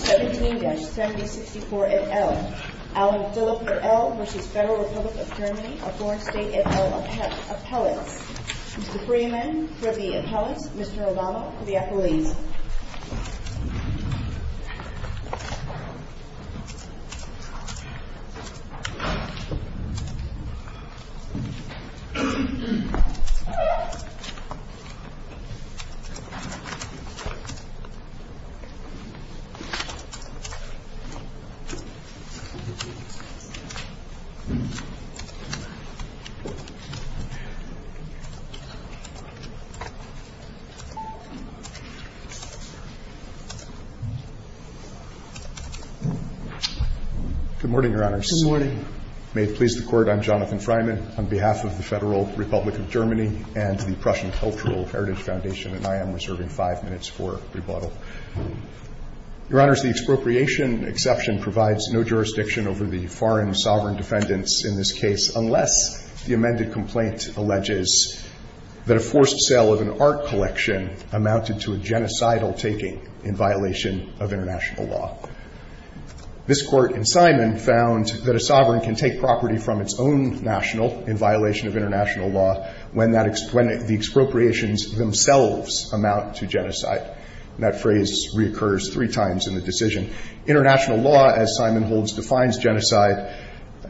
17-7064 et al., Alan Philipp et al. v. Federal Republic of Germany, a foreign state et al. appellate. Mr. Freeman, for the appellate. Mr. Obama, for the appellate. Good morning, Your Honors. Good morning. May it please the Court, I'm Jonathan Freeman on behalf of the Federal Republic of Germany and the Prussian Cultural Heritage Foundation, and I am reserving five minutes for rebuttal. Your Honors, the expropriation exception provides no jurisdiction over the foreign sovereign defendants in this case unless the amended complaint alleges that a forced sale of an art collection amounted to a genocidal taking in violation of international law. This Court in Simon found that a sovereign can take property from its own national in violation of international law when the expropriations themselves amount to genocide. And that phrase reoccurs three times in the decision. International law, as Simon holds, defines genocide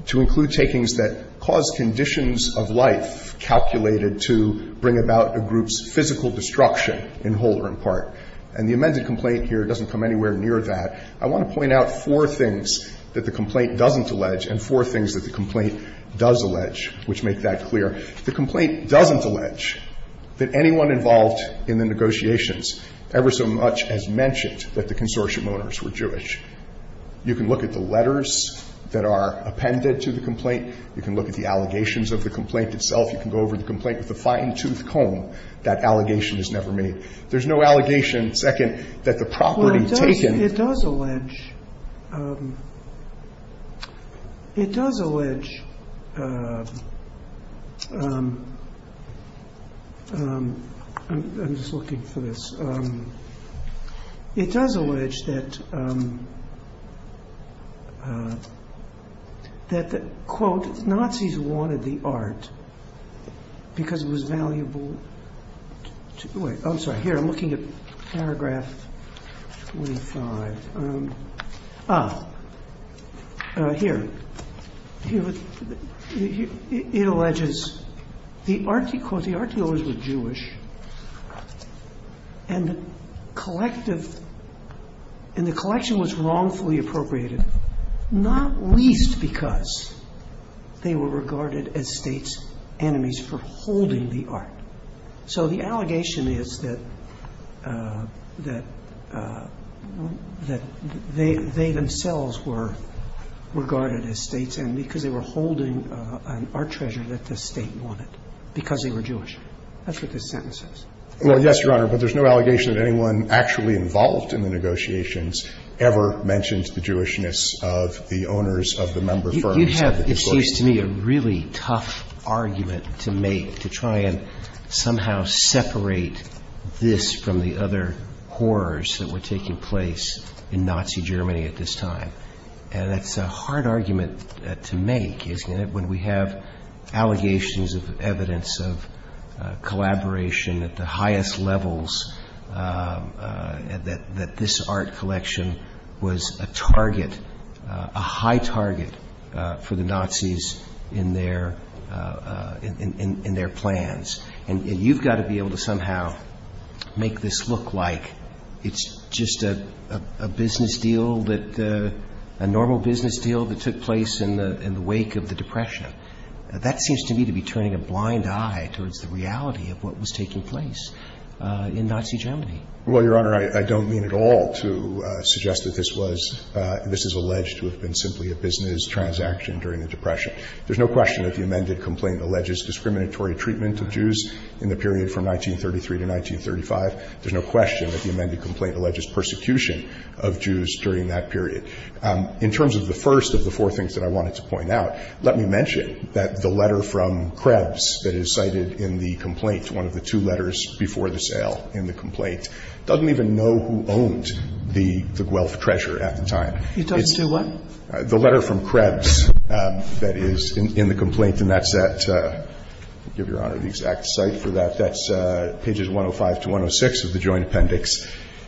to include takings that cause conditions of life calculated to bring about a group's physical destruction in whole or in part. And the amended complaint here doesn't come anywhere near that. I want to point out four things that the complaint doesn't allege and four things that the complaint does allege, which make that clear. The complaint doesn't allege that anyone involved in the negotiations ever so much as mentioned that the consortium owners were Jewish. You can look at the letters that are appended to the complaint. You can look at the allegations of the complaint itself. You can go over the complaint with a fine-tooth comb. That allegation is never made. There's no allegation, second, that the property taken. It does allege that, quote, Nazis wanted the art because it was valuable. Wait, I'm sorry. Here, I'm looking at paragraph 25. Here, it alleges, quote, the art dealers were Jewish and the collection was wrongfully appropriated, not least because they were regarded as state's enemies for holding the art. So the allegation is that they themselves were regarded as state's enemies because they were holding an art treasure that the State wanted because they were Jewish. That's what this sentence is. Well, yes, Your Honor, but there's no allegation that anyone actually involved in the negotiations ever mentioned the Jewishness of the owners of the member firms. You have, it seems to me, a really tough argument to make to try and somehow separate this from the other horrors that were taking place in Nazi Germany at this time. And it's a hard argument to make, isn't it, when we have allegations of evidence of collaboration at the highest levels that this art collection was a target, a high target for the Nazis in their plans. And you've got to be able to somehow make this look like it's just a business deal that, a normal business deal that took place in the wake of the Depression. That seems to me to be turning a blind eye towards the reality of what was taking place in Nazi Germany. Well, Your Honor, I don't mean at all to suggest that this was, this is alleged to have been simply a business transaction during the Depression. There's no question that the amended complaint alleges discriminatory treatment of Jews in the period from 1933 to 1935. There's no question that the amended complaint alleges persecution of Jews during that period. In terms of the first of the four things that I wanted to point out, let me mention that the letter from Krebs that is cited in the complaint, one of the two letters before the sale in the complaint, doesn't even know who owned the Guelph treasure at the time. You're talking to what? The letter from Krebs that is in the complaint, and that's at, I'll give Your Honor the exact site for that. That's pages 105 to 106 of the joint appendix.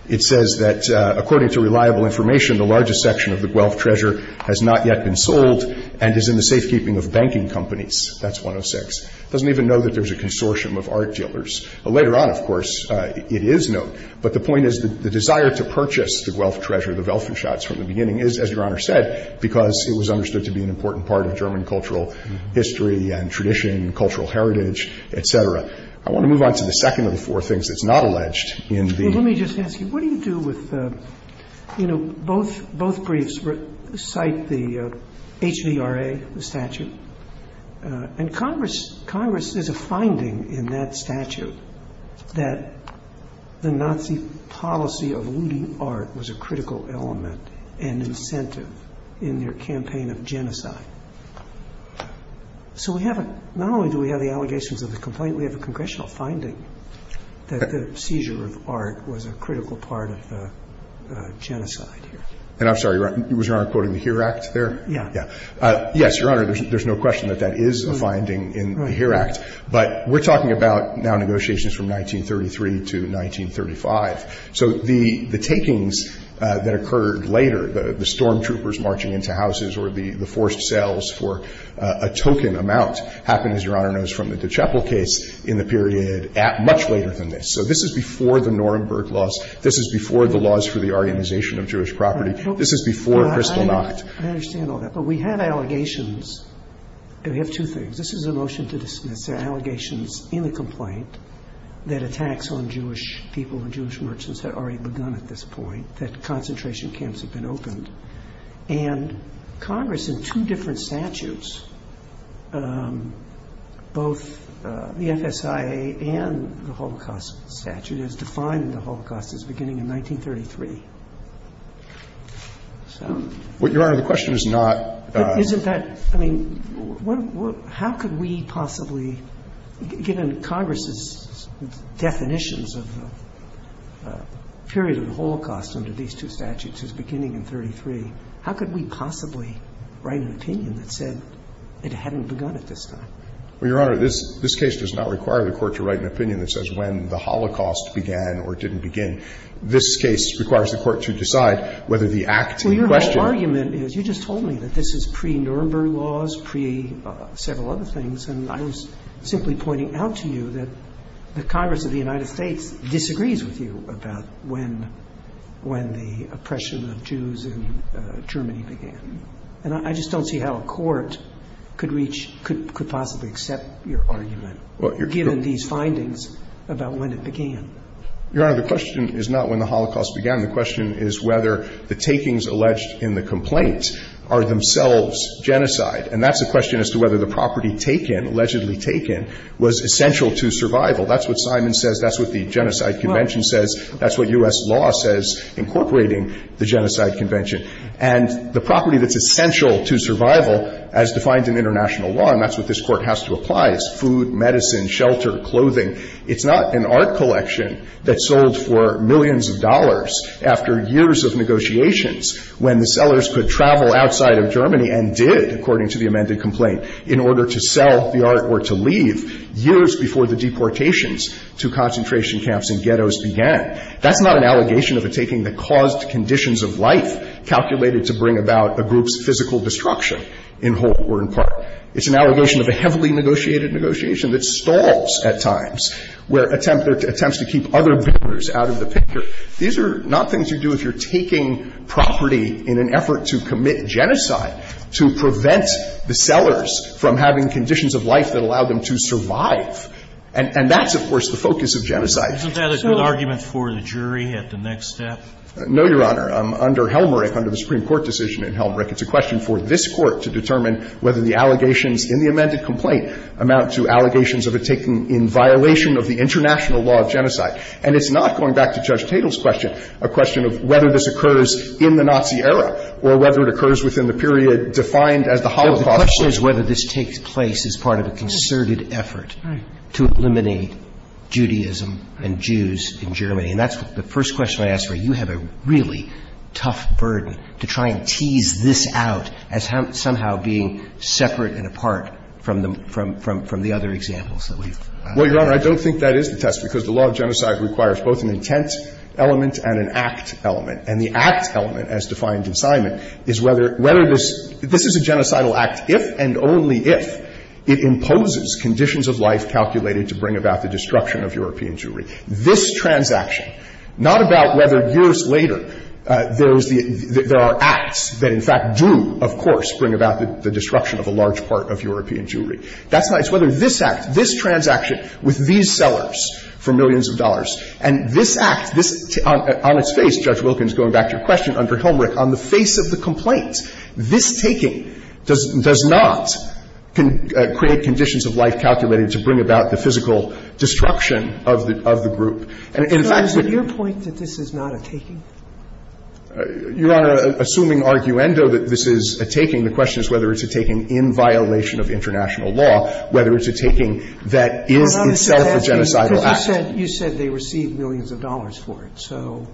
It says that, according to reliable information, the largest section of the Guelph treasure has not yet been sold and is in the safekeeping of banking companies. That's 106. It doesn't even know that there's a consortium of art dealers. Later on, of course, it is known. But the point is that the desire to purchase the Guelph treasure, the Welfenschatz from the beginning, is, as Your Honor said, because it was understood to be an important part of German cultural history and tradition, cultural heritage, et cetera. I want to move on to the second of the four things that's not alleged in the ---- Roberts. Well, let me just ask you, what do you do with the, you know, both briefs cite the HVRA, the statute, and Congress, Congress, there's a finding in that statute that the Nazi policy of looting art was a critical element and incentive in their campaign of genocide. So we have a, not only do we have the allegations of the complaint, we have a congressional finding that the seizure of art was a critical part of the genocide here. And I'm sorry, Your Honor, was Your Honor quoting the HERE Act there? Yeah. Yeah. Yes, Your Honor, there's no question that that is a finding in the HERE Act. Right. But we're talking about now negotiations from 1933 to 1935. So the takings that occurred later, the storm troopers marching into houses or the forced sales for a token amount happened, as Your Honor knows, from the DeChapel case in the period much later than this. So this is before the Nuremberg laws. This is before the laws for the organization of Jewish property. This is before Kristallnacht. I understand all that. But we have allegations. We have two things. This is a motion to dismiss the allegations in the complaint that attacks on Jewish people and Jewish merchants had already begun at this point, that concentration camps had been opened. And Congress in two different statutes, both the FSIA and the Holocaust statute, has defined the Holocaust as beginning in 1933. So. Well, Your Honor, the question is not. Isn't that? I mean, how could we possibly, given Congress's definitions of the period of the Holocaust under these two statutes as beginning in 1933, how could we possibly write an opinion that said it hadn't begun at this time? Well, Your Honor, this case does not require the Court to write an opinion that says when the Holocaust began or didn't begin. This case requires the Court to decide whether the act in question. My argument is you just told me that this is pre-Nuremberg laws, pre-several other things. And I was simply pointing out to you that the Congress of the United States disagrees with you about when the oppression of Jews in Germany began. And I just don't see how a court could reach, could possibly accept your argument given these findings about when it began. Your Honor, the question is not when the Holocaust began. The question is whether the takings alleged in the complaint are themselves genocide. And that's a question as to whether the property taken, allegedly taken, was essential to survival. That's what Simon says. That's what the Genocide Convention says. That's what U.S. law says incorporating the Genocide Convention. And the property that's essential to survival, as defined in international law, and that's what this Court has to apply, is food, medicine, shelter, clothing. It's not an art collection that sold for millions of dollars after years of negotiations when the sellers could travel outside of Germany and did, according to the amended complaint, in order to sell the art or to leave years before the deportations to concentration camps and ghettos began. That's not an allegation of a taking that caused conditions of life calculated to bring about a group's physical destruction in whole or in part. It's an allegation of a heavily negotiated negotiation that stalls at times, where attempt to keep other builders out of the picture. These are not things you do if you're taking property in an effort to commit genocide, to prevent the sellers from having conditions of life that allow them to survive. And that's, of course, the focus of genocide. Scalia. Isn't that a good argument for the jury at the next step? No, Your Honor. Under Helmreich, under the Supreme Court decision in Helmreich, it's a question for this Court to determine whether the allegations in the amended complaint amount to allegations of a taking in violation of the international law of genocide. And it's not, going back to Judge Tatel's question, a question of whether this occurs in the Nazi era or whether it occurs within the period defined as the Holocaust. The question is whether this takes place as part of a concerted effort to eliminate Judaism and Jews in Germany. And that's the first question I ask where you have a really tough burden to try and answer, as somehow being separate and apart from the other examples that we've had. Well, Your Honor, I don't think that is the test, because the law of genocide requires both an intent element and an act element. And the act element, as defined in Simon, is whether this is a genocidal act if and only if it imposes conditions of life calculated to bring about the destruction of European Jewry. This transaction, not about whether years later there are acts that in fact drew to, of course, bring about the destruction of a large part of European Jewry. That's not – it's whether this act, this transaction with these sellers for millions of dollars, and this act, this – on its face, Judge Wilkins, going back to your question, under Helmreich, on the face of the complaint, this taking does not create conditions of life calculated to bring about the physical destruction of the group. And in fact, when you – So is it your point that this is not a taking? Your Honor, assuming arguendo that this is a taking, the question is whether it's a taking in violation of international law, whether it's a taking that is itself a genocidal act. Because you said they received millions of dollars for it. So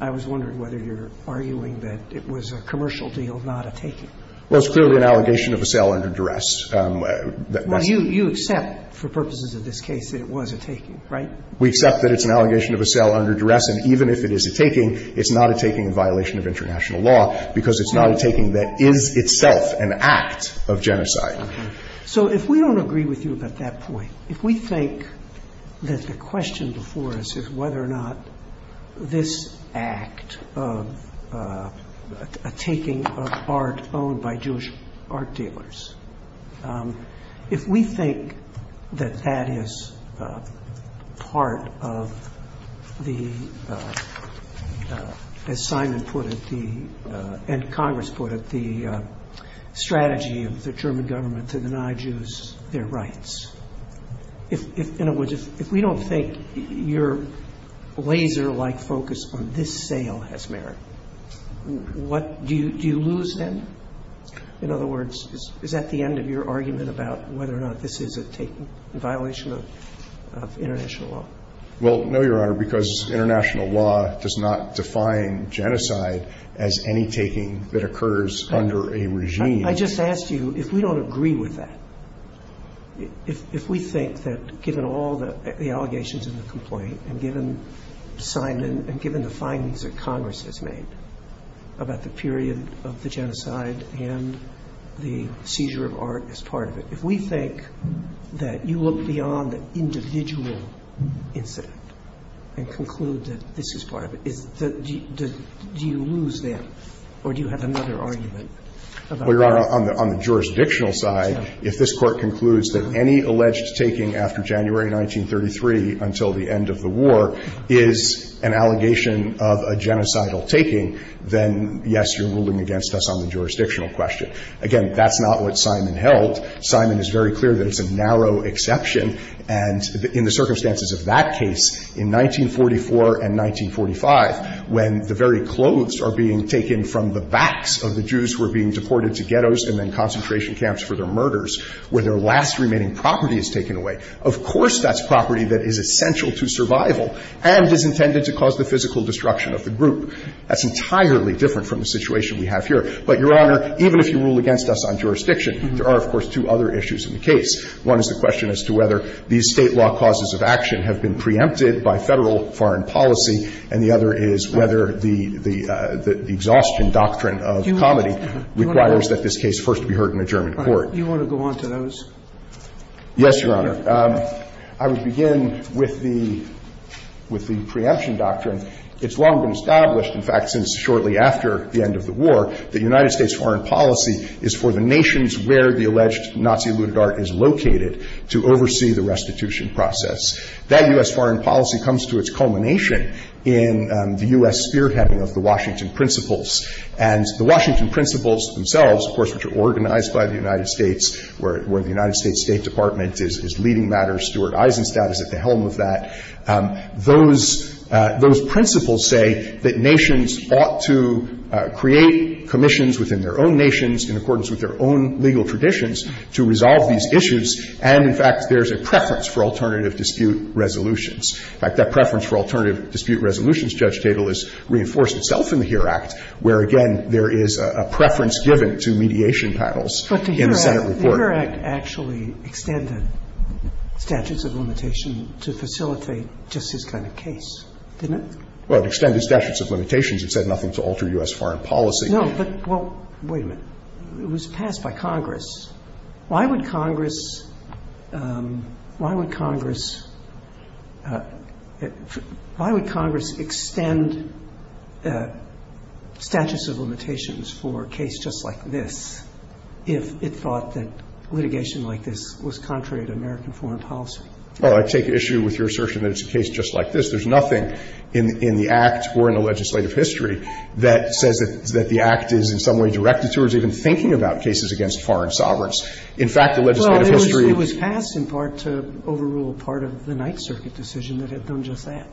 I was wondering whether you're arguing that it was a commercial deal, not a taking. Well, it's clearly an allegation of a sale under duress. Well, you accept, for purposes of this case, that it was a taking, right? We accept that it's an allegation of a sale under duress. And even if it is a taking, it's not a taking in violation of international law, because it's not a taking that is itself an act of genocide. So if we don't agree with you about that point, if we think that the question before us is whether or not this act of a taking of art owned by Jewish art dealers, if we think that that is part of the, as Simon put it, the, and Congress put it, the strategy of the German government to deny Jews their rights, in other words, if we don't think your laser-like focus on this sale has merit, what, do you lose them? In other words, is that the end of your argument about whether or not this is a taking in violation of international law? Well, no, Your Honor, because international law does not define genocide as any taking that occurs under a regime. I just asked you, if we don't agree with that, if we think that given all the allegations in the complaint and given Simon and given the findings that Congress has made about the period of the genocide and the seizure of art as part of it, if we think that you look beyond the individual incident and conclude that this is part of it, do you lose them or do you have another argument about that? Well, Your Honor, on the jurisdictional side, if this Court concludes that any alleged taking after January 1933 until the end of the war is an allegation of a genocidal taking, then, yes, you're ruling against us on the jurisdictional question. Again, that's not what Simon held. Simon is very clear that it's a narrow exception. And in the circumstances of that case, in 1944 and 1945, when the very clothes are being taken from the backs of the Jews who were being deported to ghettos and then concentration camps for their murders, where their last remaining property is taken away, of course that's property that is essential to survival and is intended to cause the physical destruction of the group. That's entirely different from the situation we have here. But, Your Honor, even if you rule against us on jurisdiction, there are, of course, two other issues in the case. One is the question as to whether these State law causes of action have been preempted by Federal foreign policy, and the other is whether the exhaustion doctrine of comedy requires that this case first be heard in a German court. Do you want to go on to those? Yes, Your Honor. I would begin with the preemption doctrine. It's long been established, in fact, since shortly after the end of the war, that United States foreign policy is for the nations where the alleged Nazi-looted art is located to oversee the restitution process. That U.S. foreign policy comes to its culmination in the U.S. spearheading of the Washington Principles. And the Washington Principles themselves, of course, which are organized by the United States State Department, is leading matter. Stuart Eisenstadt is at the helm of that. Those principles say that nations ought to create commissions within their own nations in accordance with their own legal traditions to resolve these issues. And, in fact, there's a preference for alternative dispute resolutions. In fact, that preference for alternative dispute resolutions, Judge Tatel, is reinforced itself in the HERE Act, where, again, there is a preference given to mediation panels in the Senate report. But the HERE Act actually extended statutes of limitation to facilitate just this kind of case, didn't it? Well, it extended statutes of limitations. It said nothing to alter U.S. foreign policy. No, but, well, wait a minute. It was passed by Congress. Why would Congress – why would Congress – why would Congress extend statutes of limitations for a case just like this if it thought that litigation like this was contrary to American foreign policy? Well, I take issue with your assertion that it's a case just like this. There's nothing in the Act or in the legislative history that says that the Act is in some way directed towards even thinking about cases against foreign sovereigns. In fact, the legislative history – Well, it was passed in part to overrule part of the Ninth Circuit decision that had done just that.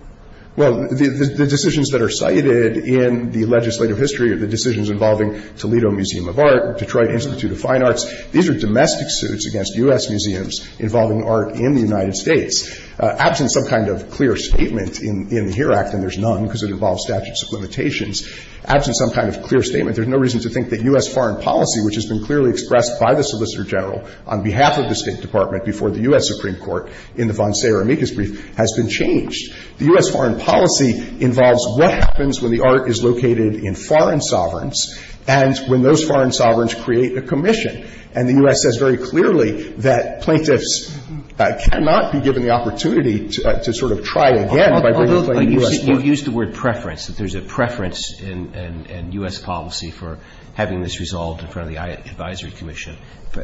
Well, the decisions that are cited in the legislative history are the decisions involving Toledo Museum of Art, Detroit Institute of Fine Arts. These are domestic suits against U.S. museums involving art in the United States. Absent some kind of clear statement in the HERE Act, and there's none because it involves statutes of limitations, absent some kind of clear statement, there's no reason to think that U.S. foreign policy, which has been clearly expressed by the Solicitor General on behalf of the State Department before the U.S. Supreme Court, has been changed. The U.S. foreign policy involves what happens when the art is located in foreign sovereigns and when those foreign sovereigns create a commission. And the U.S. says very clearly that plaintiffs cannot be given the opportunity to sort of try again by bringing plaintiffs. You've used the word preference, that there's a preference in U.S. policy for having this resolved in front of the Advisory Commission.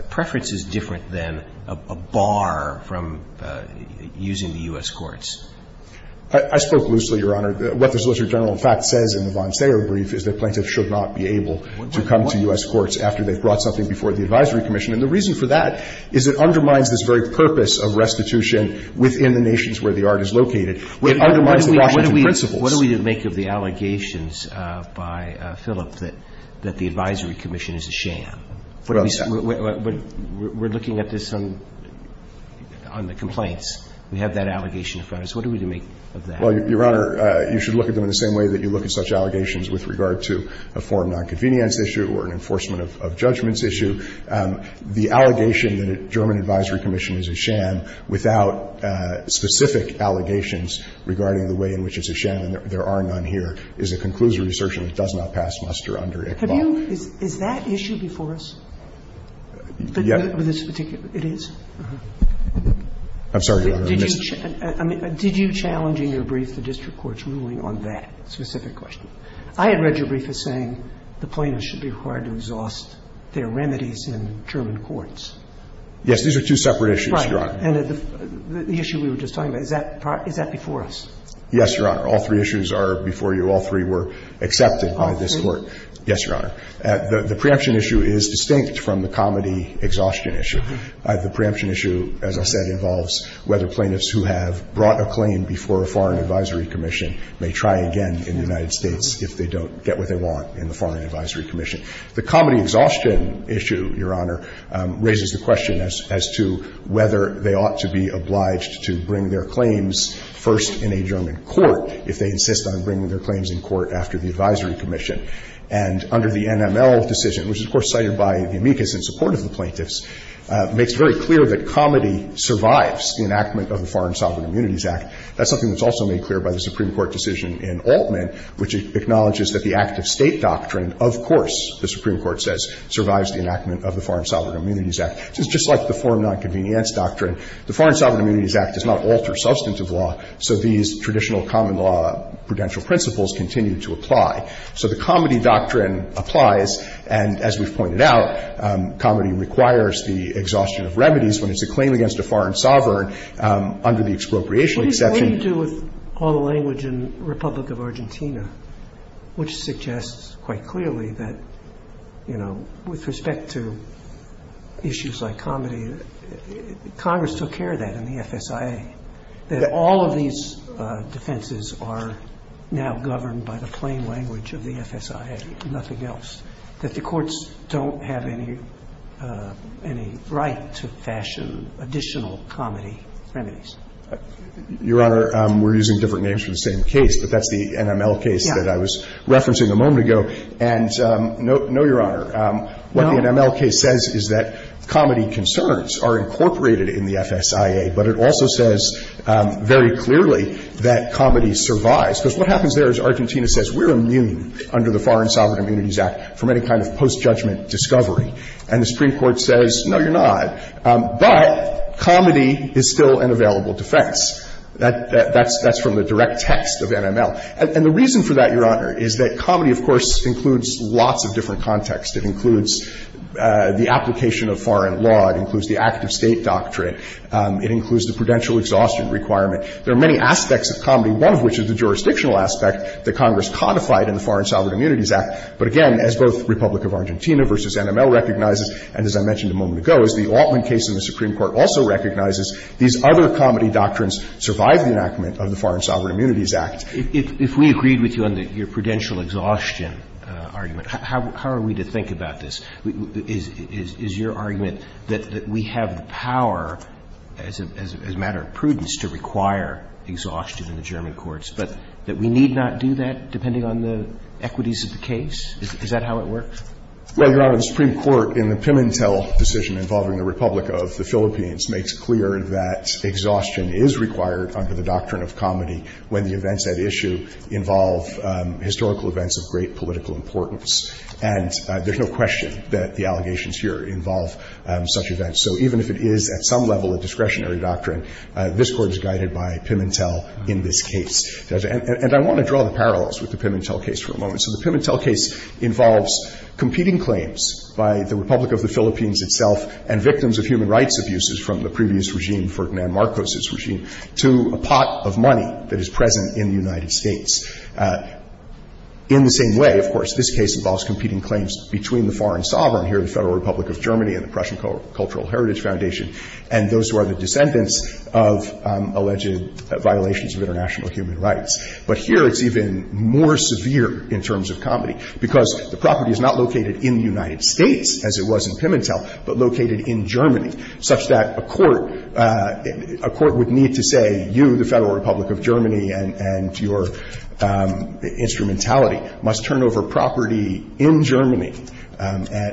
Preference is different than a bar from using the U.S. courts. I spoke loosely, Your Honor. What the Solicitor General, in fact, says in the von Sayer brief is that plaintiffs should not be able to come to U.S. courts after they've brought something before the Advisory Commission. And the reason for that is it undermines this very purpose of restitution within the nations where the art is located. It undermines the Washington principles. What do we make of the allegations by Philip that the Advisory Commission is a sham? We're looking at this on the complaints. We have that allegation in front of us. What do we make of that? Well, Your Honor, you should look at them in the same way that you look at such allegations with regard to a foreign nonconvenience issue or an enforcement of judgments issue. The allegation that a German Advisory Commission is a sham without specific allegations regarding the way in which it's a sham, and there are none here, is a conclusive assertion that it does not pass muster under ICHBAU. Have you – is that issue before us? Yeah. This particular – it is? I'm sorry, Your Honor. Did you – I mean, did you challenge in your brief the district court's ruling on that specific question? I had read your brief as saying the plaintiffs should be required to exhaust their remedies in German courts. Yes. These are two separate issues, Your Honor. Right. And the issue we were just talking about, is that before us? Yes, Your Honor. All three issues are before you. All three were accepted by this Court. All three? Yes, Your Honor. The preemption issue is distinct from the comity exhaustion issue. The preemption issue, as I said, involves whether plaintiffs who have brought a claim before a foreign advisory commission may try again in the United States if they don't get what they want in the foreign advisory commission. The comity exhaustion issue, Your Honor, raises the question as to whether they ought to be obliged to bring their claims first in a German court if they insist on bringing their claims in court after the advisory commission. And under the NML decision, which is, of course, cited by the amicus in support of the plaintiffs, makes it very clear that comity survives the enactment of the Foreign Sovereign Immunities Act. That's something that's also made clear by the Supreme Court decision in Altman, which acknowledges that the active State doctrine, of course, the Supreme Court says, survives the enactment of the Foreign Sovereign Immunities Act. It's just like the foreign nonconvenience doctrine. The Foreign Sovereign Immunities Act does not alter substantive law, so these traditional common law prudential principles continue to apply. So the comity doctrine applies. And as we've pointed out, comity requires the exhaustion of remedies when it's a claim against a foreign sovereign under the expropriation exception. Sotomayor What do you do with all the language in Republic of Argentina, which suggests quite clearly that, you know, with respect to issues like comity, Congress took care of that in the FSIA. That all of these defenses are now governed by the plain language of the FSIA, nothing else. That the courts don't have any right to fashion additional comity remedies. Horwich Your Honor, we're using different names for the same case, but that's the NML case that I was referencing a moment ago. And no, Your Honor, what the NML case says is that comity concerns are incorporated in the FSIA. But it also says very clearly that comity survives. Because what happens there is Argentina says we're immune under the Foreign Sovereign Immunities Act from any kind of post-judgment discovery. And the Supreme Court says, no, you're not. But comity is still an available defense. That's from the direct text of NML. And the reason for that, Your Honor, is that comity, of course, includes lots of different contexts. It includes the application of foreign law. It includes the active state doctrine. It includes the prudential exhaustion requirement. There are many aspects of comity, one of which is the jurisdictional aspect that Congress codified in the Foreign Sovereign Immunities Act. But again, as both Republic of Argentina v. NML recognizes, and as I mentioned a moment ago, as the Altman case in the Supreme Court also recognizes, these other comity doctrines survive the enactment of the Foreign Sovereign Immunities Act. Roberts. If we agreed with you on your prudential exhaustion argument, how are we to think about this? Is your argument that we have the power as a matter of prudence to require exhaustion in the German courts, but that we need not do that depending on the equities of the case? Is that how it works? Well, Your Honor, the Supreme Court in the Pimentel decision involving the Republic of the Philippines makes clear that exhaustion is required under the doctrine of comity when the events at issue involve historical events of great political importance. And there's no question that the allegations here involve such events. So even if it is at some level a discretionary doctrine, this Court is guided by Pimentel in this case. And I want to draw the parallels with the Pimentel case for a moment. So the Pimentel case involves competing claims by the Republic of the Philippines itself and victims of human rights abuses from the previous regime, Ferdinand Marcos's regime, to a pot of money that is present in the United States. In the same way, of course, this case involves competing claims between the foreign sovereign here, the Federal Republic of Germany and the Prussian Cultural Heritage Foundation, and those who are the descendants of alleged violations of international human rights. But here it's even more severe in terms of comity, because the property is not located in the United States as it was in Pimentel, but located in Germany, such that a court – a court would need to say, you, the Federal Republic of Germany, and your instrumentality must turn over property in Germany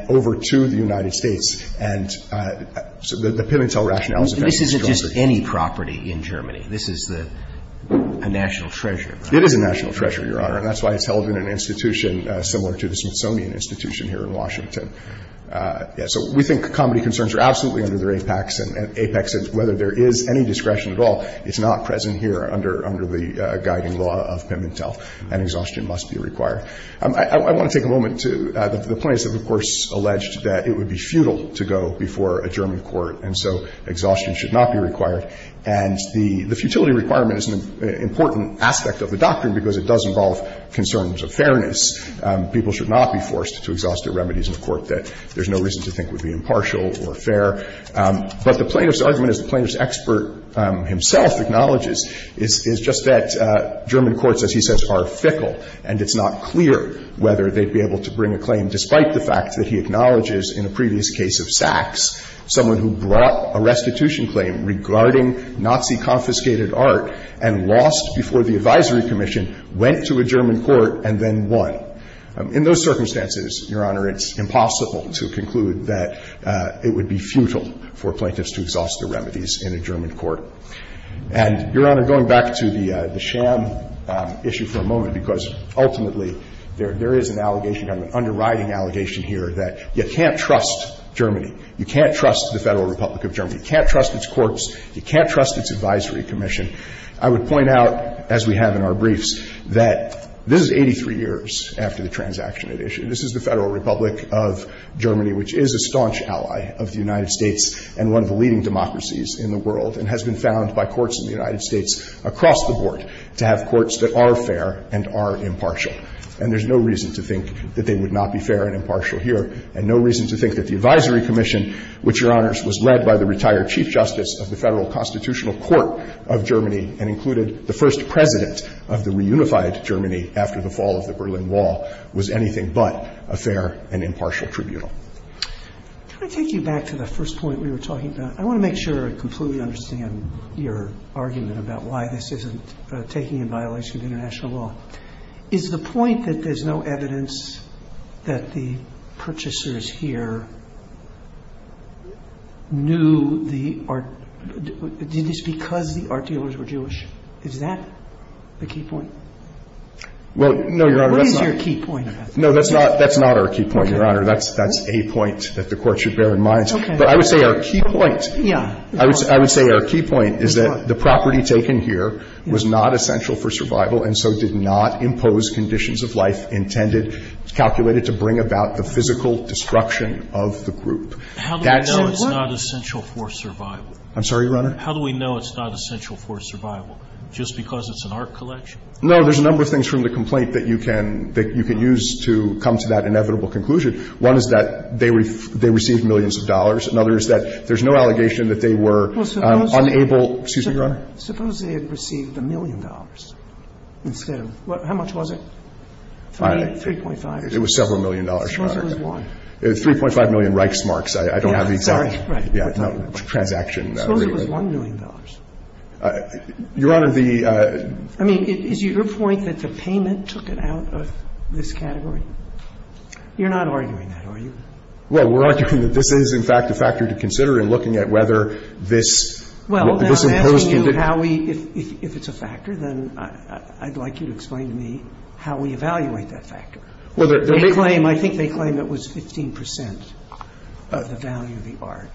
over to the United States. And so the Pimentel rationale is a very strong one. And this isn't just any property in Germany. This is a national treasure. It is a national treasure, Your Honor, and that's why it's held in an institution similar to the Smithsonian Institution here in Washington. So we think comity concerns are absolutely under their apex, and apex is whether there is any discretion at all. It's not present here under the guiding law of Pimentel, and exhaustion must be required. I want to take a moment to – the plaintiffs have, of course, alleged that it would be futile to go before a German court, and so exhaustion should not be required. And the futility requirement is an important aspect of the doctrine, because it does involve concerns of fairness. People should not be forced to exhaust their remedies in a court that there's no reason to think would be impartial or fair. But the plaintiff's argument, as the plaintiff's expert himself acknowledges, is just that German courts, as he says, are fickle, and it's not clear whether they'd be able to bring a claim, despite the fact that he acknowledges in a previous case of Sachs someone who brought a restitution claim regarding Nazi-confiscated art and lost before the advisory commission, went to a German court, and then won. In those circumstances, Your Honor, it's impossible to conclude that it would be futile for plaintiffs to exhaust their remedies in a German court. And, Your Honor, going back to the sham issue for a moment, because ultimately there is an allegation, an underwriting allegation here, that you can't trust Germany. You can't trust the Federal Republic of Germany. You can't trust its courts. You can't trust its advisory commission. I would point out, as we have in our briefs, that this is 83 years after the transaction edition. This is the Federal Republic of Germany, which is a staunch ally of the United States and one of the leading democracies in the world, and has been found by courts in the United States across the board to have courts that are fair and are impartial. And there's no reason to think that they would not be fair and impartial here, and no reason to think that the advisory commission, which, Your Honors, was led by the Federal Republic of Germany and included the first president of the reunified Germany after the fall of the Berlin Wall, was anything but a fair and impartial tribunal. Roberts. Can I take you back to the first point we were talking about? I want to make sure I completely understand your argument about why this isn't taking in violation of international law. Is the point that there's no evidence that the purchasers here knew the art – did they know the art dealers were Jewish? Is that the key point? Well, no, Your Honor, that's not – What is your key point? No, that's not – that's not our key point, Your Honor. That's a point that the Court should bear in mind. Okay. But I would say our key point – Yeah. I would say our key point is that the property taken here was not essential for survival and so did not impose conditions of life intended, calculated to bring about the physical destruction of the group. How do we know it's not essential for survival? I'm sorry, Your Honor? How do we know it's not essential for survival? Just because it's an art collection? No, there's a number of things from the complaint that you can – that you can use to come to that inevitable conclusion. One is that they received millions of dollars. Another is that there's no allegation that they were unable – excuse me, Your Honor? Suppose they had received a million dollars instead of – how much was it? 3.5. It was several million dollars, Your Honor. Suppose it was one. It was 3.5 million Reichsmarks. I don't have the exact – Reichsmarks, right. Yeah. It's not a transaction. Suppose it was one million dollars. Your Honor, the – I mean, is your point that the payment took it out of this category? You're not arguing that, are you? Well, we're arguing that this is, in fact, a factor to consider in looking at whether this imposed condition – Well, now, I'm asking you how we – if it's a factor, then I'd like you to explain to me how we evaluate that factor. Well, there may – They claim – I think they claim it was 15 percent of the value of the art.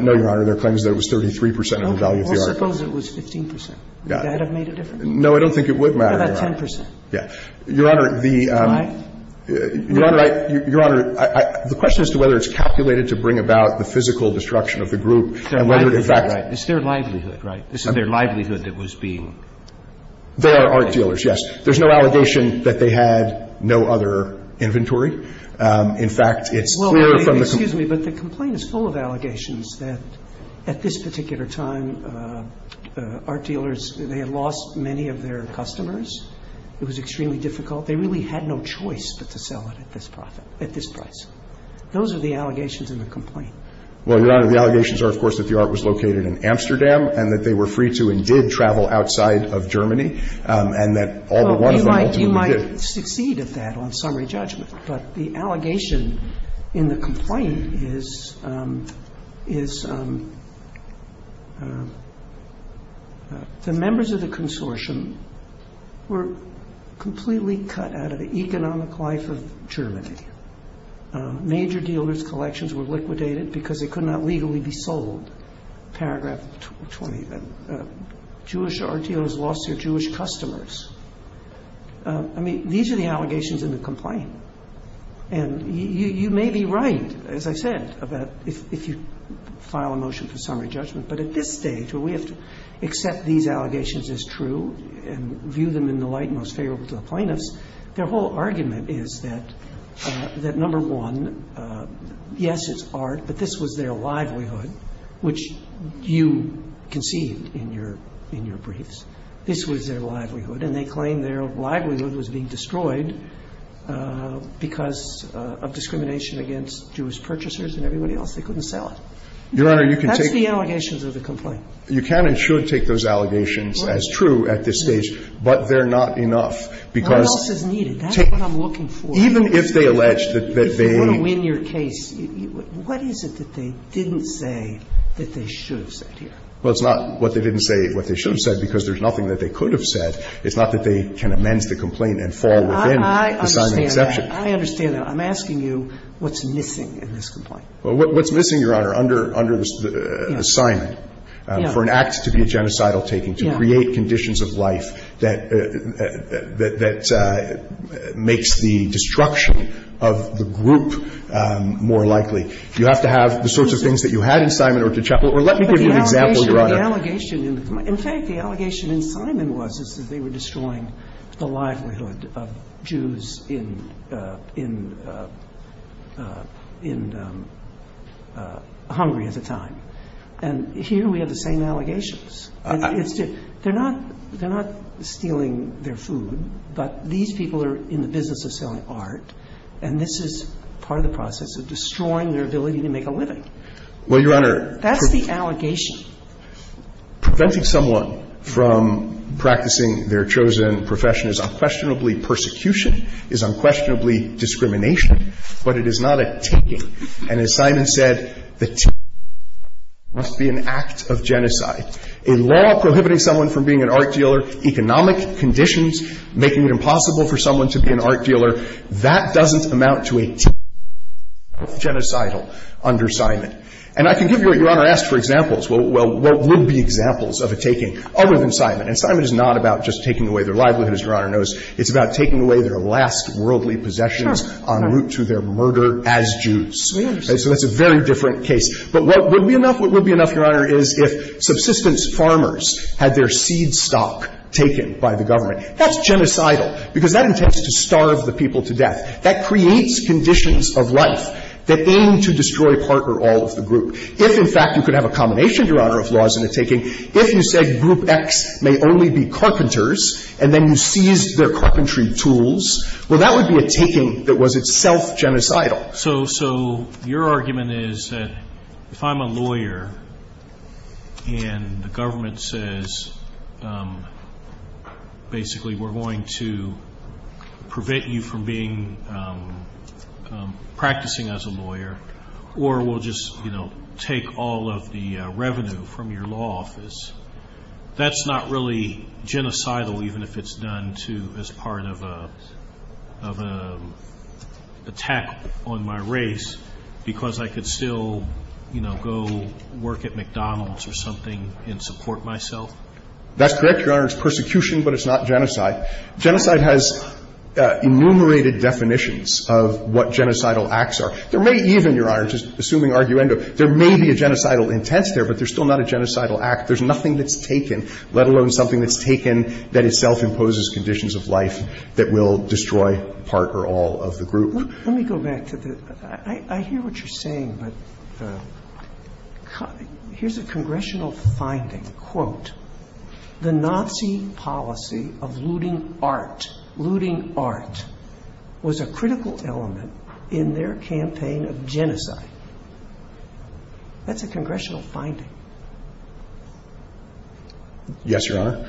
No, Your Honor. Their claim is that it was 33 percent of the value of the art. Okay. Well, suppose it was 15 percent. Would that have made a difference? No, I don't think it would matter, Your Honor. How about 10 percent? Yeah. Your Honor, the – Why? Your Honor, I – the question as to whether it's calculated to bring about the physical destruction of the group and whether, in fact – It's their livelihood, right? This is their livelihood that was being – They are art dealers, yes. There's no allegation that they had no other inventory. In fact, it's clear from the – that at this particular time, art dealers – they had lost many of their customers. It was extremely difficult. They really had no choice but to sell it at this profit – at this price. Those are the allegations in the complaint. Well, Your Honor, the allegations are, of course, that the art was located in Amsterdam and that they were free to and did travel outside of Germany and that all but one of them ultimately did. You might succeed at that on summary judgment, but the allegation in the complaint is the members of the consortium were completely cut out of the economic life of Germany. Major dealers' collections were liquidated because they could not legally be sold. Paragraph 20. Jewish art dealers lost their Jewish customers. I mean, these are the allegations in the complaint. And you may be right, as I said, about if you file a motion for summary judgment. But at this stage, where we have to accept these allegations as true and view them in the light most favorable to the plaintiffs, their whole argument is that, number one, yes, it's art, but this was their livelihood, which you conceived in your briefs. This was their livelihood. And they claim their livelihood was being destroyed because of discrimination against Jewish purchasers and everybody else. They couldn't sell it. That's the allegations of the complaint. You can and should take those allegations as true at this stage, but they're not enough because But if you want to win your case, what else is needed? That's what I'm looking for. Even if they allege that they need to win your case, what is it that they didn't say that they should have said here? Well, it's not what they didn't say, what they should have said, because there's nothing that they could have said. It's not that they can amend the complaint and fall within the assignment exception. I understand that. I'm asking you what's missing in this complaint. Well, what's missing, Your Honor, under the assignment for an act to be a genocidal taking, to create conditions of life that makes the destruction of the group more likely. You have to have the sorts of things that you had in Simon or to Chappell. Or let me give you an example, Your Honor. But the allegation, in fact, the allegation in Simon was that they were destroying the livelihood of Jews in Hungary at the time. And here we have the same allegations. They're not stealing their food, but these people are in the business of selling art, and this is part of the process of destroying their ability to make a living. Well, Your Honor. That's the allegation. Preventing someone from practicing their chosen profession is unquestionably persecution, is unquestionably discrimination, but it is not a taking. And as Simon said, the taking must be an act of genocide. A law prohibiting someone from being an art dealer, economic conditions making it impossible for someone to be an art dealer, that doesn't amount to a taking of genocidal under Simon. And I can give you what Your Honor asked for examples. Well, what would be examples of a taking other than Simon? And Simon is not about just taking away their livelihood, as Your Honor knows. It's about taking away their last worldly possessions en route to their murder as Jews. So that's a very different case. But what would be enough? What would be enough, Your Honor, is if subsistence farmers had their seed stock taken by the government. That's genocidal, because that intends to starve the people to death. That creates conditions of life that aim to destroy part or all of the group. If, in fact, you could have a combination, Your Honor, of laws and a taking, if you said Group X may only be carpenters and then you seized their carpentry tools, well, that would be a taking that was itself genocidal. So your argument is that if I'm a lawyer and the government says, basically, we're going to prevent you from practicing as a lawyer or we'll just take all of the revenue from your law office, that's not really genocidal, even if it's done as part of an attack on my race because I could still go work at McDonald's or something and support myself? That's correct, Your Honor. It's persecution, but it's not genocide. Genocide has enumerated definitions of what genocidal acts are. There may even, Your Honor, just assuming arguendo, there may be a genocidal intent there, but there's still not a genocidal act. There's nothing that's taken, let alone something that's taken that itself imposes conditions of life that will destroy part or all of the group. Let me go back to the – I hear what you're saying, but here's a congressional finding, quote, the Nazi policy of looting art, looting art, was a critical element in their campaign of genocide. That's a congressional finding. Yes, Your Honor.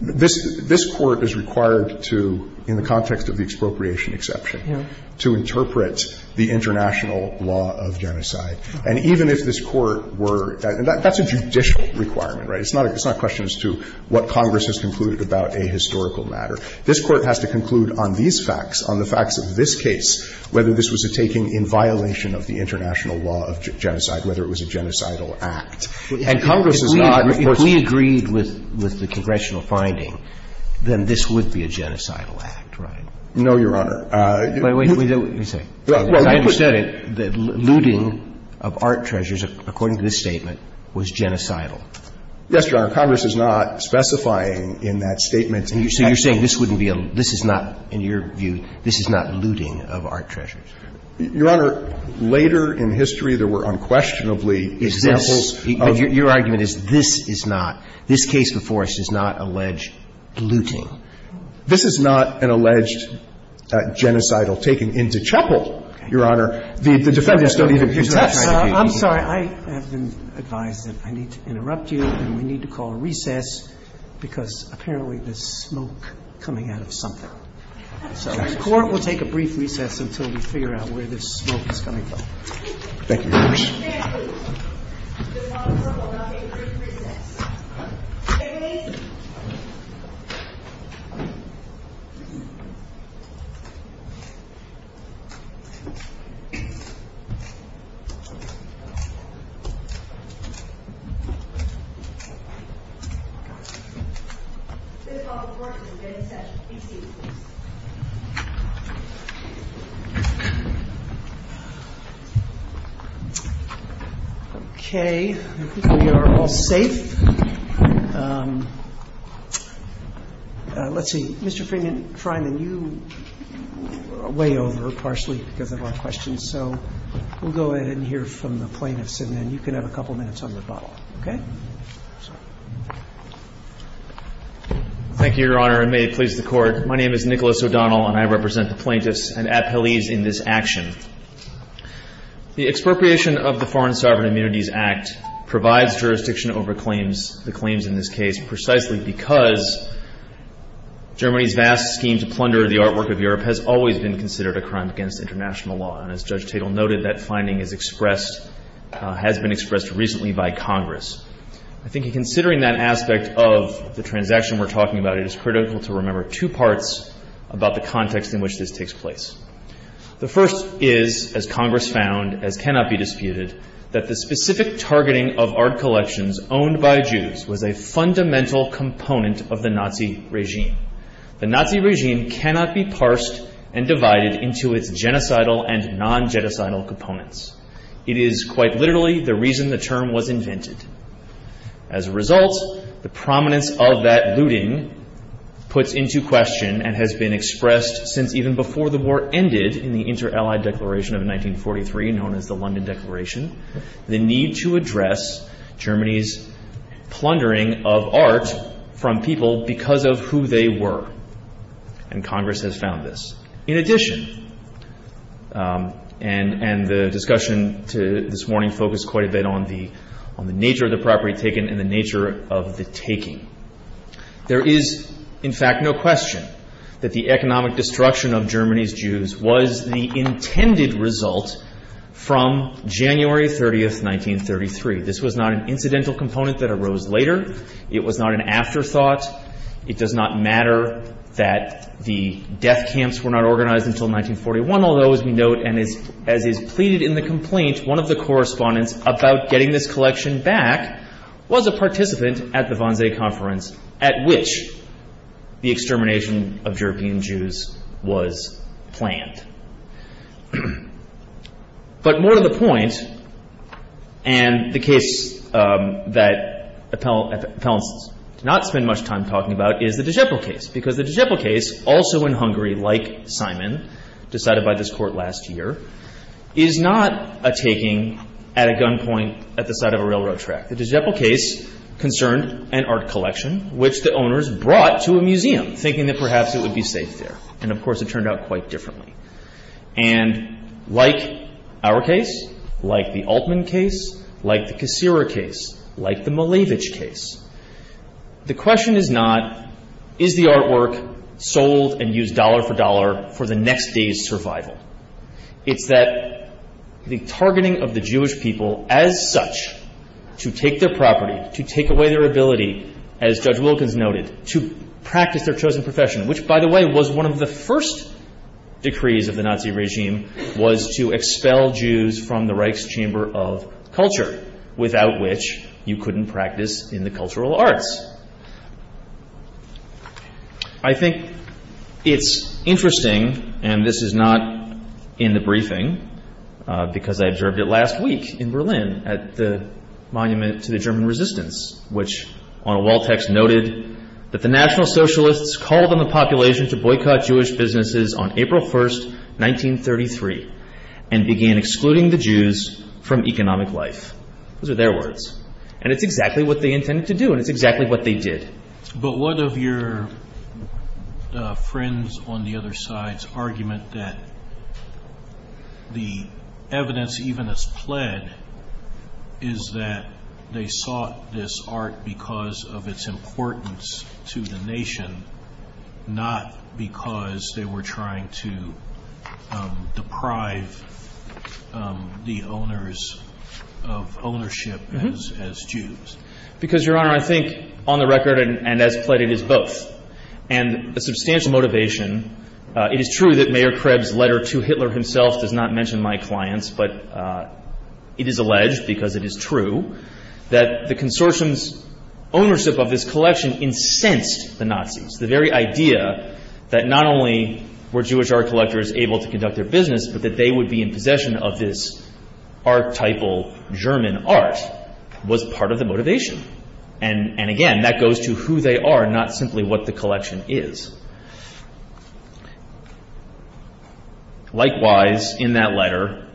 This Court is required to, in the context of the expropriation exception, to interpret the international law of genocide. And even if this Court were – and that's a judicial requirement, right? It's not a question as to what Congress has concluded about a historical matter. This Court has to conclude on these facts, on the facts of this case, whether this was a taking in violation of the international law of genocide, whether it was a genocidal act. And Congress has not, of course – If we agreed with the congressional finding, then this would be a genocidal act, right? No, Your Honor. Wait a minute. Let me say it. As I understand it, the looting of art treasures, according to this statement, was genocidal. Yes, Your Honor. Congress is not specifying in that statement. So you're saying this wouldn't be a – this is not, in your view, this is not looting of art treasures? Your Honor, later in history, there were unquestionably examples of – But your argument is this is not – this case before us does not allege looting. This is not an alleged genocidal taking into chapel, Your Honor. The defendants don't even protest. I'm sorry. I have been advised that I need to interrupt you and we need to call a recess because apparently there's smoke coming out of something. So the Court will take a brief recess until we figure out where this smoke is coming Thank you very much. Stand at ease. This is called the Court will now take a brief recess. Stand at ease. This is called the Court will now take a recess. Be seated, please. Okay. I think we are all safe. Let's see. Mr. Freeman, Freeman, you are way over partially because of our questions, so we'll go ahead and hear from the plaintiffs and then you can have a couple minutes on rebuttal. Okay? Thank you, Your Honor, and may it please the Court. My name is Nicholas O'Donnell and I represent the plaintiffs and appellees in this action. The expropriation of the Foreign Sovereign Immunities Act provides jurisdiction over claims, the claims in this case, precisely because Germany's vast scheme to plunder the artwork of Europe has always been considered a crime against international law. And as Judge Tatel noted, that finding is expressed, has been expressed recently by Congress. I think in considering that aspect of the transaction we're talking about, it is critical to remember two parts about the context in which this takes place. The first is, as Congress found, as cannot be disputed, that the specific targeting of art collections owned by Jews was a fundamental component of the Nazi regime. The Nazi regime cannot be parsed and divided into its genocidal and non-genocidal components. It is quite literally the reason the term was invented. As a result, the prominence of that looting puts into question and has been ended in the Inter-Allied Declaration of 1943, known as the London Declaration, the need to address Germany's plundering of art from people because of who they were. And Congress has found this. In addition, and the discussion to this morning focused quite a bit on the nature of the property taken and the nature of the taking, there is, in fact, no question that the economic destruction of Germany's Jews was the intended result from January 30, 1933. This was not an incidental component that arose later. It was not an afterthought. It does not matter that the death camps were not organized until 1941, although, as we note and as is pleaded in the complaint, one of the correspondents about getting this collection back was a participant at the Wannsee Conference at which the extermination of European Jews was planned. But more to the point, and the case that appellants do not spend much time talking about is the de Geppel case, because the de Geppel case, also in Hungary, like Simon, decided by this Court last year, is not a taking at a gunpoint at the side of a railroad track. The de Geppel case concerned an art collection which the owners brought to a museum thinking that perhaps it would be safe there. And, of course, it turned out quite differently. And like our case, like the Altman case, like the Kasira case, like the Malevich case, the question is not, is the artwork sold and used dollar for dollar for the next day's survival? It's that the targeting of the Jewish people as such to take their property, to take away their ability, as Judge Wilkins noted, to practice their chosen profession, which, by the way, was one of the first decrees of the Nazi regime, was to expel Jews from the Reich's chamber of culture, without which you couldn't practice in the cultural arts. I think it's interesting, and this is not in the briefing, because I observed it last week in Berlin at the Monument to the German Resistance, which on a wall text noted that the National Socialists called on the population to boycott Jewish businesses on April 1, 1933, and began excluding the Jews from economic life. Those are their words. And it's exactly what they intended to do, and it's exactly what they did. But one of your friends on the other side's argument that the evidence even has pled is that they sought this art because of its importance to the nation, not because they were trying to deprive the owners of ownership as Jews. Because, Your Honor, I think on the record, and as pled, it is both. And a substantial motivation. It is true that Mayor Kreb's letter to Hitler himself does not mention my clients, but it is alleged, because it is true, that the Consortium's ownership of this collection incensed the Nazis. The very idea that not only were Jewish art collectors able to conduct their business, but that they would be in possession of this archetypal German art was part of the motivation. And, again, that goes to who they are, not simply what the collection is. Likewise, in that letter,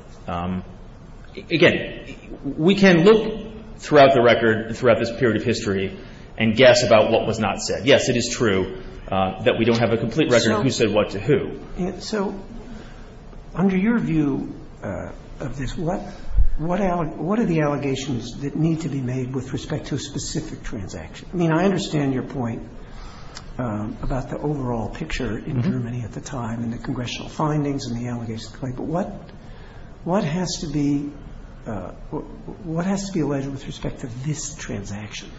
again, we can look throughout the record, throughout this period of history, and guess about what was not said. Yes, it is true that we don't have a complete record of who said what to who. So under your view of this, what are the allegations that need to be made with respect to a specific transaction? I mean, I understand your point about the overall picture in Germany at the time and the congressional findings and the allegations. But what has to be alleged with respect to this transaction?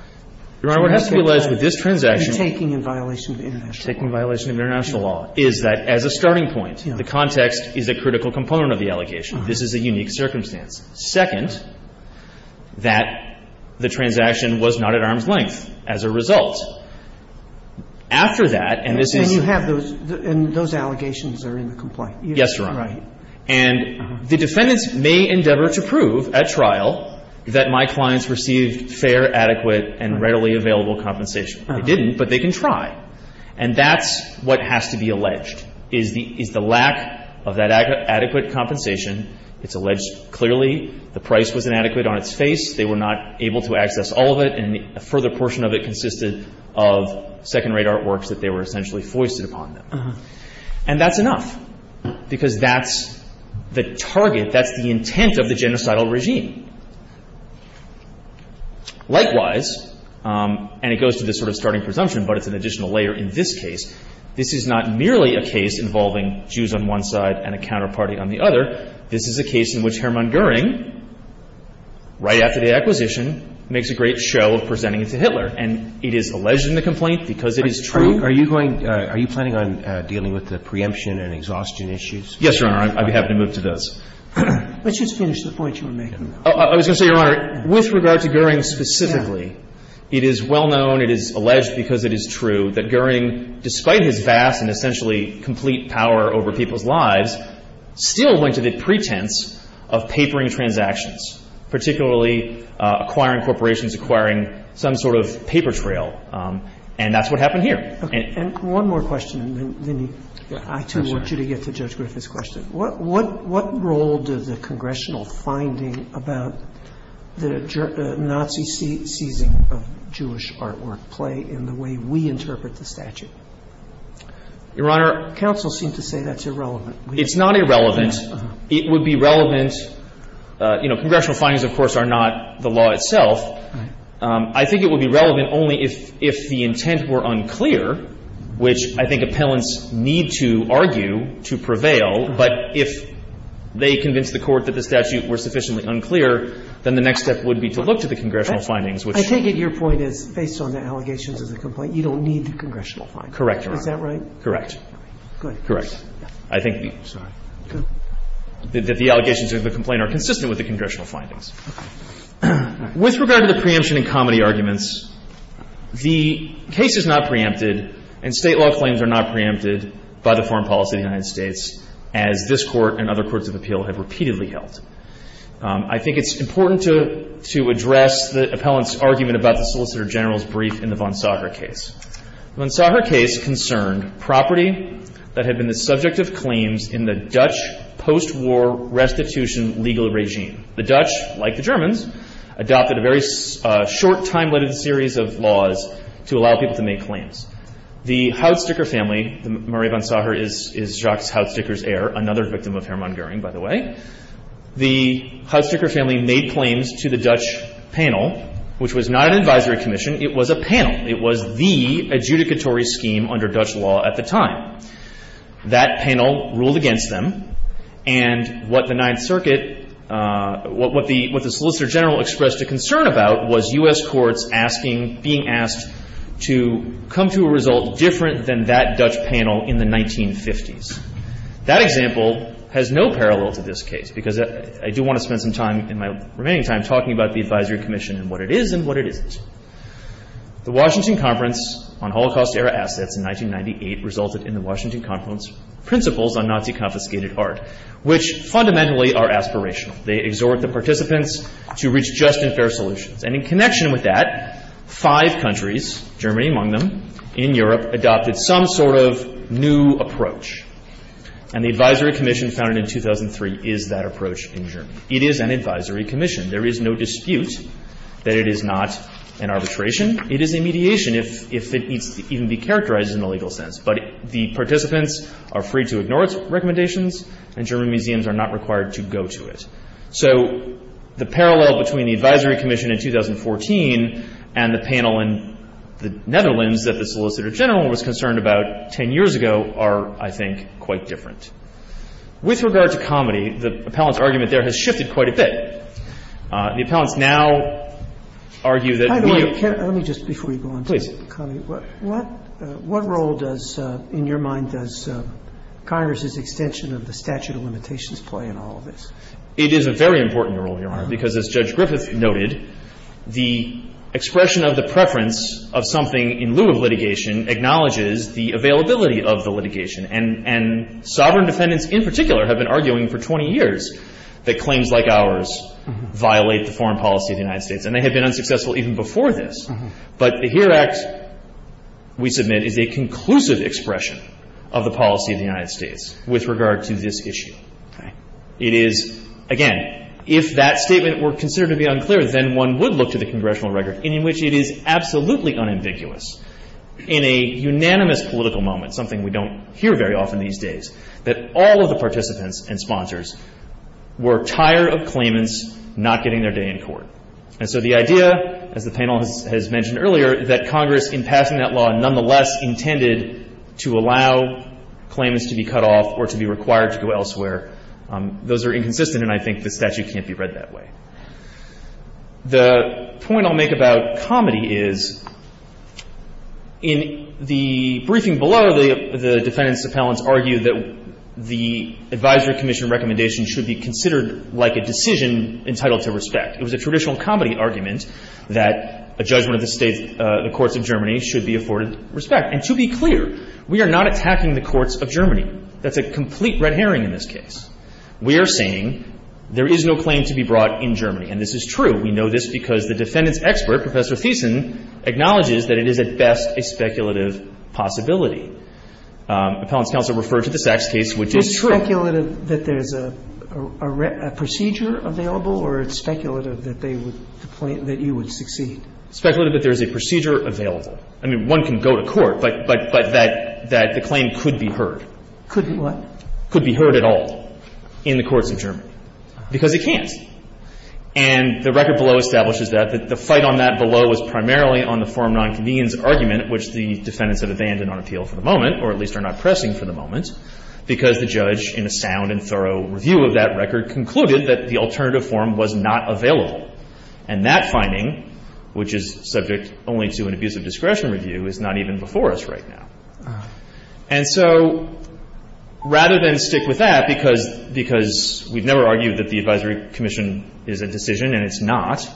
Your Honor, what has to be alleged with this transaction? You're taking in violation of international law. Well, first of all, is that as a starting point, the context is a critical component of the allegation. This is a unique circumstance. Second, that the transaction was not at arm's length as a result. After that, and this is the case. And you have those, and those allegations are in the complaint. Yes, Your Honor. Right. And the defendants may endeavor to prove at trial that my clients received fair, adequate, and readily available compensation. They didn't, but they can try. And that's what has to be alleged, is the lack of that adequate compensation. It's alleged clearly the price was inadequate on its face. They were not able to access all of it. And a further portion of it consisted of second-rate artworks that they were essentially foisted upon them. And that's enough, because that's the target, that's the intent of the genocidal regime. Likewise, and it goes to this sort of starting presumption, but it's an additional layer in this case, this is not merely a case involving Jews on one side and a counterparty on the other. This is a case in which Hermann Goering, right after the acquisition, makes a great show of presenting it to Hitler. And it is alleged in the complaint because it is true. Are you going to – are you planning on dealing with the preemption and exhaustion issues? Yes, Your Honor. I'd be happy to move to those. Let's just finish the point you were making. I was going to say, Your Honor, with regard to Goering specifically, it is well-known, it is alleged because it is true, that Goering, despite his vast and essentially complete power over people's lives, still went to the pretense of papering transactions, particularly acquiring corporations, acquiring some sort of paper trail. And that's what happened here. And one more question, and then I, too, want you to get to Judge Griffith's question, what role does the congressional finding about the Nazi seizing of Jewish artwork play in the way we interpret the statute? Your Honor. Counsel seemed to say that's irrelevant. It's not irrelevant. It would be relevant. You know, congressional findings, of course, are not the law itself. I think it would be relevant only if the intent were unclear, which I think appellants need to argue to prevail, but if they convince the Court that the statute was sufficiently unclear, then the next step would be to look to the congressional findings, which should be. I take it your point is, based on the allegations of the complaint, you don't need the congressional findings. Correct, Your Honor. Is that right? Correct. Good. Correct. I think the allegations of the complaint are consistent with the congressional findings. With regard to the preemption and comedy arguments, the case is not preempted and State law claims are not preempted by the foreign policy of the United States as this Court and other courts of appeal have repeatedly held. I think it's important to address the appellant's argument about the Solicitor General's brief in the von Sager case. The von Sager case concerned property that had been the subject of claims in the Dutch post-war restitution legal regime. The Dutch, like the Germans, adopted a very short time-limited series of laws to allow people to make claims. The Houdsteker family, Murray von Sager is Jacques Houdsteker's heir, another victim of Hermann Goering, by the way, the Houdsteker family made claims to the Dutch panel, which was not an advisory commission. It was a panel. It was the adjudicatory scheme under Dutch law at the time. That panel ruled against them. And what the Ninth Circuit, what the Solicitor General expressed a concern about was U.S. courts asking, being asked to come to a result different than that Dutch panel in the 1950s. That example has no parallel to this case, because I do want to spend some time in my remaining time talking about the advisory commission and what it is and what it isn't. The Washington Conference on Holocaust-Era Assets in 1998 resulted in the Washington Conference Principles on Nazi Confiscated Art, which fundamentally are aspirational. They exhort the participants to reach just and fair solutions. And in connection with that, five countries, Germany among them, in Europe, adopted some sort of new approach. And the advisory commission founded in 2003 is that approach in Germany. It is an advisory commission. There is no dispute that it is not an arbitration. It is a mediation, if it needs to even be characterized in the legal sense. But the participants are free to ignore its recommendations, and German museums are not required to go to it. So the parallel between the advisory commission in 2014 and the panel in the Netherlands that the Solicitor General was concerned about 10 years ago are, I think, quite different. With regard to comedy, the appellant's argument there has shifted quite a bit. The appellants now argue that we need to be fair. Sotomayor, let me just, before you go on. Please. What role does, in your mind, does Congress's extension of the statute of limitations play in all of this? It is a very important role, Your Honor, because as Judge Griffith noted, the expression of the preference of something in lieu of litigation acknowledges the availability of the litigation. And sovereign defendants in particular have been arguing for 20 years that claims like ours violate the foreign policy of the United States. And they have been unsuccessful even before this. But the HERE Act, we submit, is a conclusive expression of the policy of the United States with regard to this issue. It is, again, if that statement were considered to be unclear, then one would look to the congressional record in which it is absolutely unambiguous in a unanimous political moment, something we don't hear very often these days, that all of the defense appellants are aware of claimants not getting their day in court. And so the idea, as the panel has mentioned earlier, that Congress, in passing that law, nonetheless intended to allow claimants to be cut off or to be required to go elsewhere, those are inconsistent, and I think the statute can't be read that way. The point I'll make about comedy is, in the briefing below, the defense appellants argue that the advisory commission recommendation should be considered like a decision entitled to respect. It was a traditional comedy argument that a judgment of the States, the courts of Germany, should be afforded respect. And to be clear, we are not attacking the courts of Germany. That's a complete red herring in this case. We are saying there is no claim to be brought in Germany. And this is true. We know this because the defendant's expert, Professor Thiessen, acknowledges that it is at best a speculative possibility. Appellant's counsel referred to the Sachs case, which is true. Sotomayor It's speculative that there is a procedure available, or it's speculative that they would, that you would succeed? Wessler Speculative that there is a procedure available. I mean, one can go to court, but that the claim could be heard. Sotomayor Could what? Wessler Could be heard at all in the courts of Germany, because it can't. And the record below establishes that. The fight on that below is primarily on the forum nonconvenience argument, which the defendants have abandoned on appeal for the moment, or at least are not pressing for the moment, because the judge, in a sound and thorough review of that record, concluded that the alternative forum was not available. And that finding, which is subject only to an abuse of discretion review, is not even before us right now. And so rather than stick with that, because we've never argued that the advisory commission is a decision, and it's not,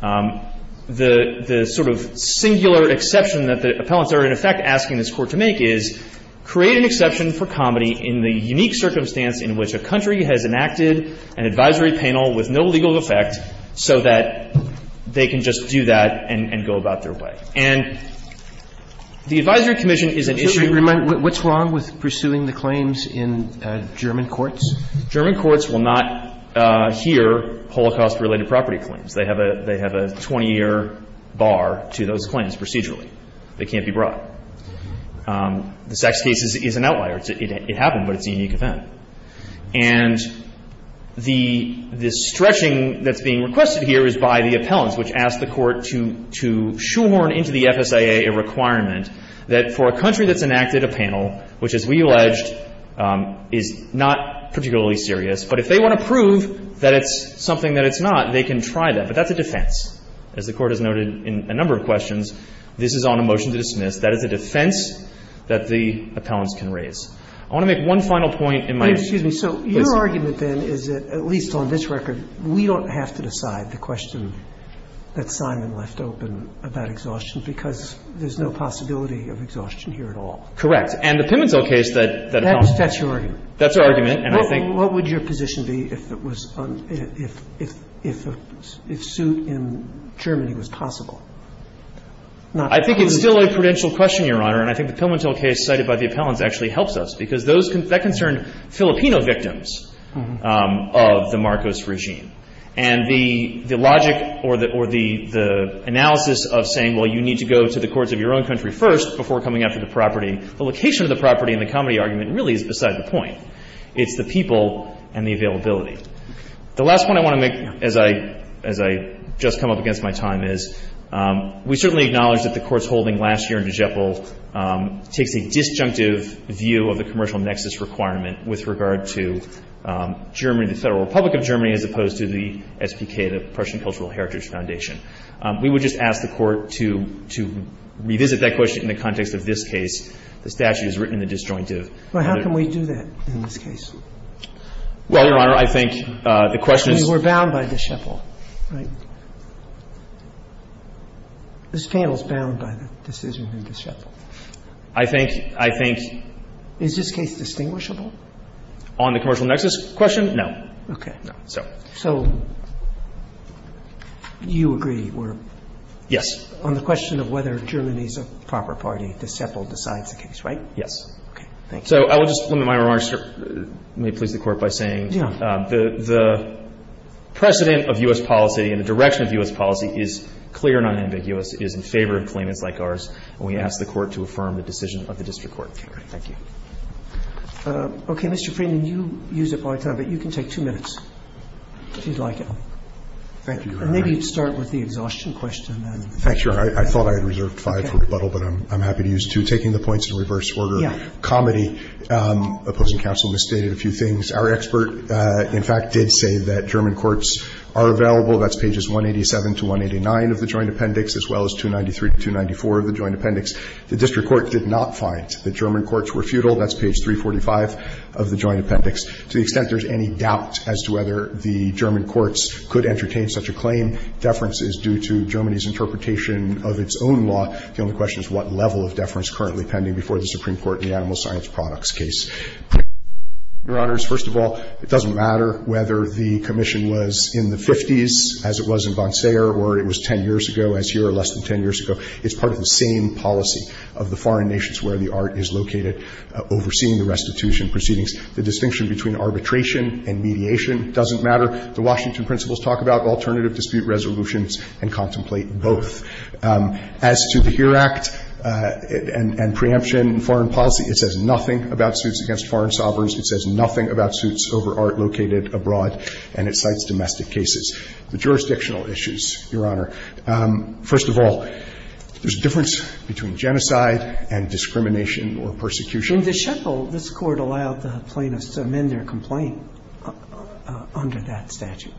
the sort of singular exception that the defendants are in effect asking this Court to make is create an exception for comedy in the unique circumstance in which a country has enacted an advisory panel with no legal effect so that they can just do that and go about their way. And the advisory commission is an issue. Roberts What's wrong with pursuing the claims in German courts? Wessler German courts will not hear Holocaust-related property claims. They have a 20-year bar to those claims procedurally. They can't be brought. The Sachs case is an outlier. It happened, but it's a unique event. And the stretching that's being requested here is by the appellants, which ask the Court to shoehorn into the FSIA a requirement that for a country that's enacted a panel, which, as we alleged, is not particularly serious, but if they want to prove that it's something that it's not, they can try that. But that's a defense. As the Court has noted in a number of questions, this is on a motion to dismiss. That is a defense that the appellants can raise. I want to make one final point in my answer. Sotomayor Excuse me. So your argument, then, is that at least on this record, we don't have to decide the question that Simon left open about exhaustion because there's no possibility of exhaustion here at all. Wessler Correct. And the Pimentel case that appellants raised. Sotomayor That's your argument. Wessler That's our argument. And I think — Sotomayor What would your position be if it was — if suit in Germany was possible? Wessler I think it's still a prudential question, Your Honor. And I think the Pimentel case cited by the appellants actually helps us because those — that concerned Filipino victims of the Marcos regime. And the logic or the analysis of saying, well, you need to go to the courts of your own country first before coming after the property, the location of the property and the property argument really is beside the point. It's the people and the availability. The last one I want to make as I — as I just come up against my time is we certainly acknowledge that the Court's holding last year in DeGeppo takes a disjunctive view of the commercial nexus requirement with regard to Germany, the Federal Republic of Germany, as opposed to the SPK, the Prussian Cultural Heritage Foundation. We would just ask the Court to revisit that question in the context of this case. The statute is written in the disjunctive. Sotomayor Well, how can we do that in this case? Wessler Well, Your Honor, I think the question is — Sotomayor We were bound by DeGeppo, right? This panel is bound by the decision in DeGeppo. Wessler I think — I think — Sotomayor Is this case distinguishable? Wessler On the commercial nexus question, no. Sotomayor Okay. Wessler No. Sotomayor So you agree we're — Wessler Yes. Sotomayor On the question of whether Germany is a proper party, DeGeppo decides the case, right? Wessler Yes. Sotomayor Okay. Thank you. Wessler So I will just limit my remarks, Your Honor. May it please the Court by saying — Sotomayor Yeah. Wessler — the precedent of U.S. policy and the direction of U.S. policy is clear and unambiguous, is in favor of claimants like ours, and we ask the Court to affirm the decision of the district court. Sotomayor Okay. Wessler Thank you. Roberts Okay. Mr. Freeman, you use it all the time, but you can take two minutes if you'd like Freeman Thank you, Your Honor. Roberts And maybe start with the exhaustion question. Sotomayor Thank you, Your Honor. I thought I had reserved five for rebuttal, but I'm happy to use two. Taking the points in reverse order — Wessler Yeah. Sotomayor — comedy, opposing counsel misstated a few things. Our expert, in fact, did say that German courts are available. That's pages 187 to 189 of the joint appendix, as well as 293 to 294 of the joint appendix. The district court did not find that German courts were futile. That's page 345 of the joint appendix. To the extent there's any doubt as to whether the German courts could entertain such a claim, deference is due to Germany's interpretation of its own law. The only question is what level of deference currently pending before the Supreme Court in the animal science products case. Your Honors, first of all, it doesn't matter whether the commission was in the 50s, as it was in Bonsair, or it was 10 years ago, as here, or less than 10 years ago. It's part of the same policy of the foreign nations where the art is located, overseeing the restitution proceedings. The distinction between arbitration and mediation doesn't matter. The Washington principles talk about alternative dispute resolutions and contemplate both. As to the HERE Act and preemption in foreign policy, it says nothing about suits against foreign sovereigns. It says nothing about suits over art located abroad, and it cites domestic cases. The jurisdictional issues, Your Honor. First of all, there's a difference between genocide and discrimination or persecution. In the Shekel, this Court allowed the plaintiffs to amend their complaint under that statute.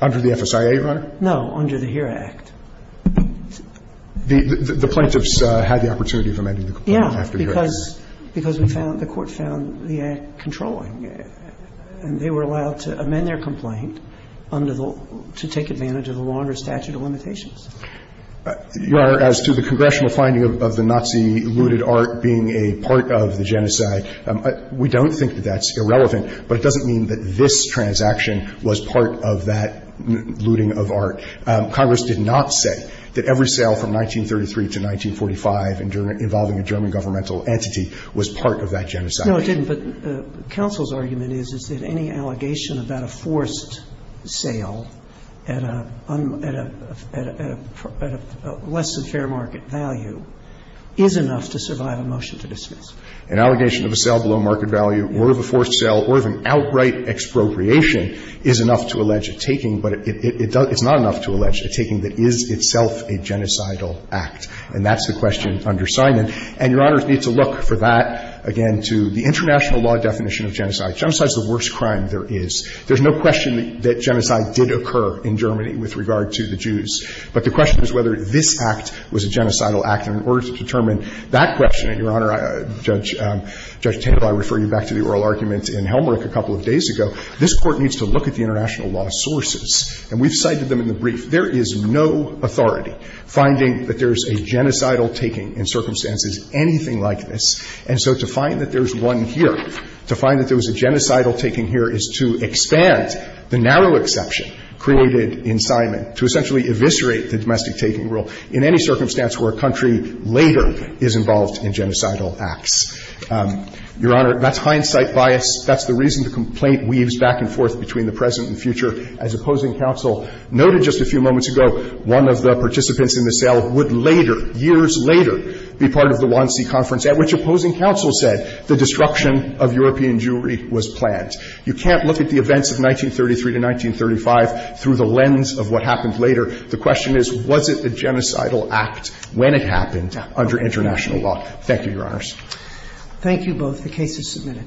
Under the FSIA, Your Honor? No, under the HERE Act. The plaintiffs had the opportunity of amending the complaint after the HERE Act. Yeah, because we found, the Court found the act controlling. And they were allowed to amend their complaint under the, to take advantage of the longer statute of limitations. Your Honor, as to the congressional finding of the Nazi looted art being a part of the genocide, we don't think that that's irrelevant, but it doesn't mean that this transaction was part of that looting of art. Congress did not say that every sale from 1933 to 1945 involving a German governmental entity was part of that genocide. No, it didn't. But counsel's argument is, is that any allegation about a forced sale at a, at a, at a less than fair market value is enough to survive a motion to dismiss. An allegation of a sale below market value or of a forced sale or of an outright expropriation is enough to allege a taking, but it, it, it does, it's not enough to allege a taking that is itself a genocidal act. And that's the question under Simon. And Your Honors need to look for that, again, to the international law definition of genocide. Genocide's the worst crime there is. There's no question that genocide did occur in Germany with regard to the Jews. But the question is whether this act was a genocidal act. And in order to determine that question, Your Honor, Judge, Judge Tandler, I refer you back to the oral argument in Helmreich a couple of days ago, this Court needs to look at the international law sources. And we've cited them in the brief. There is no authority finding that there's a genocidal taking in circumstances anything like this. And so to find that there's one here, to find that there was a genocidal taking here is to expand the narrow exception created in Simon to essentially eviscerate the domestic taking rule in any circumstance where a country later is involved in genocidal acts. Your Honor, that's hindsight bias. That's the reason the complaint weaves back and forth between the present and future. As opposing counsel noted just a few moments ago, one of the participants in the sale would later, years later, be part of the Wannsee conference at which opposing counsel said the destruction of European Jewry was planned. You can't look at the events of 1933 to 1935 through the lens of what happened later. The question is, was it a genocidal act when it happened under international law? Thank you, Your Honors. Thank you both. The case is submitted.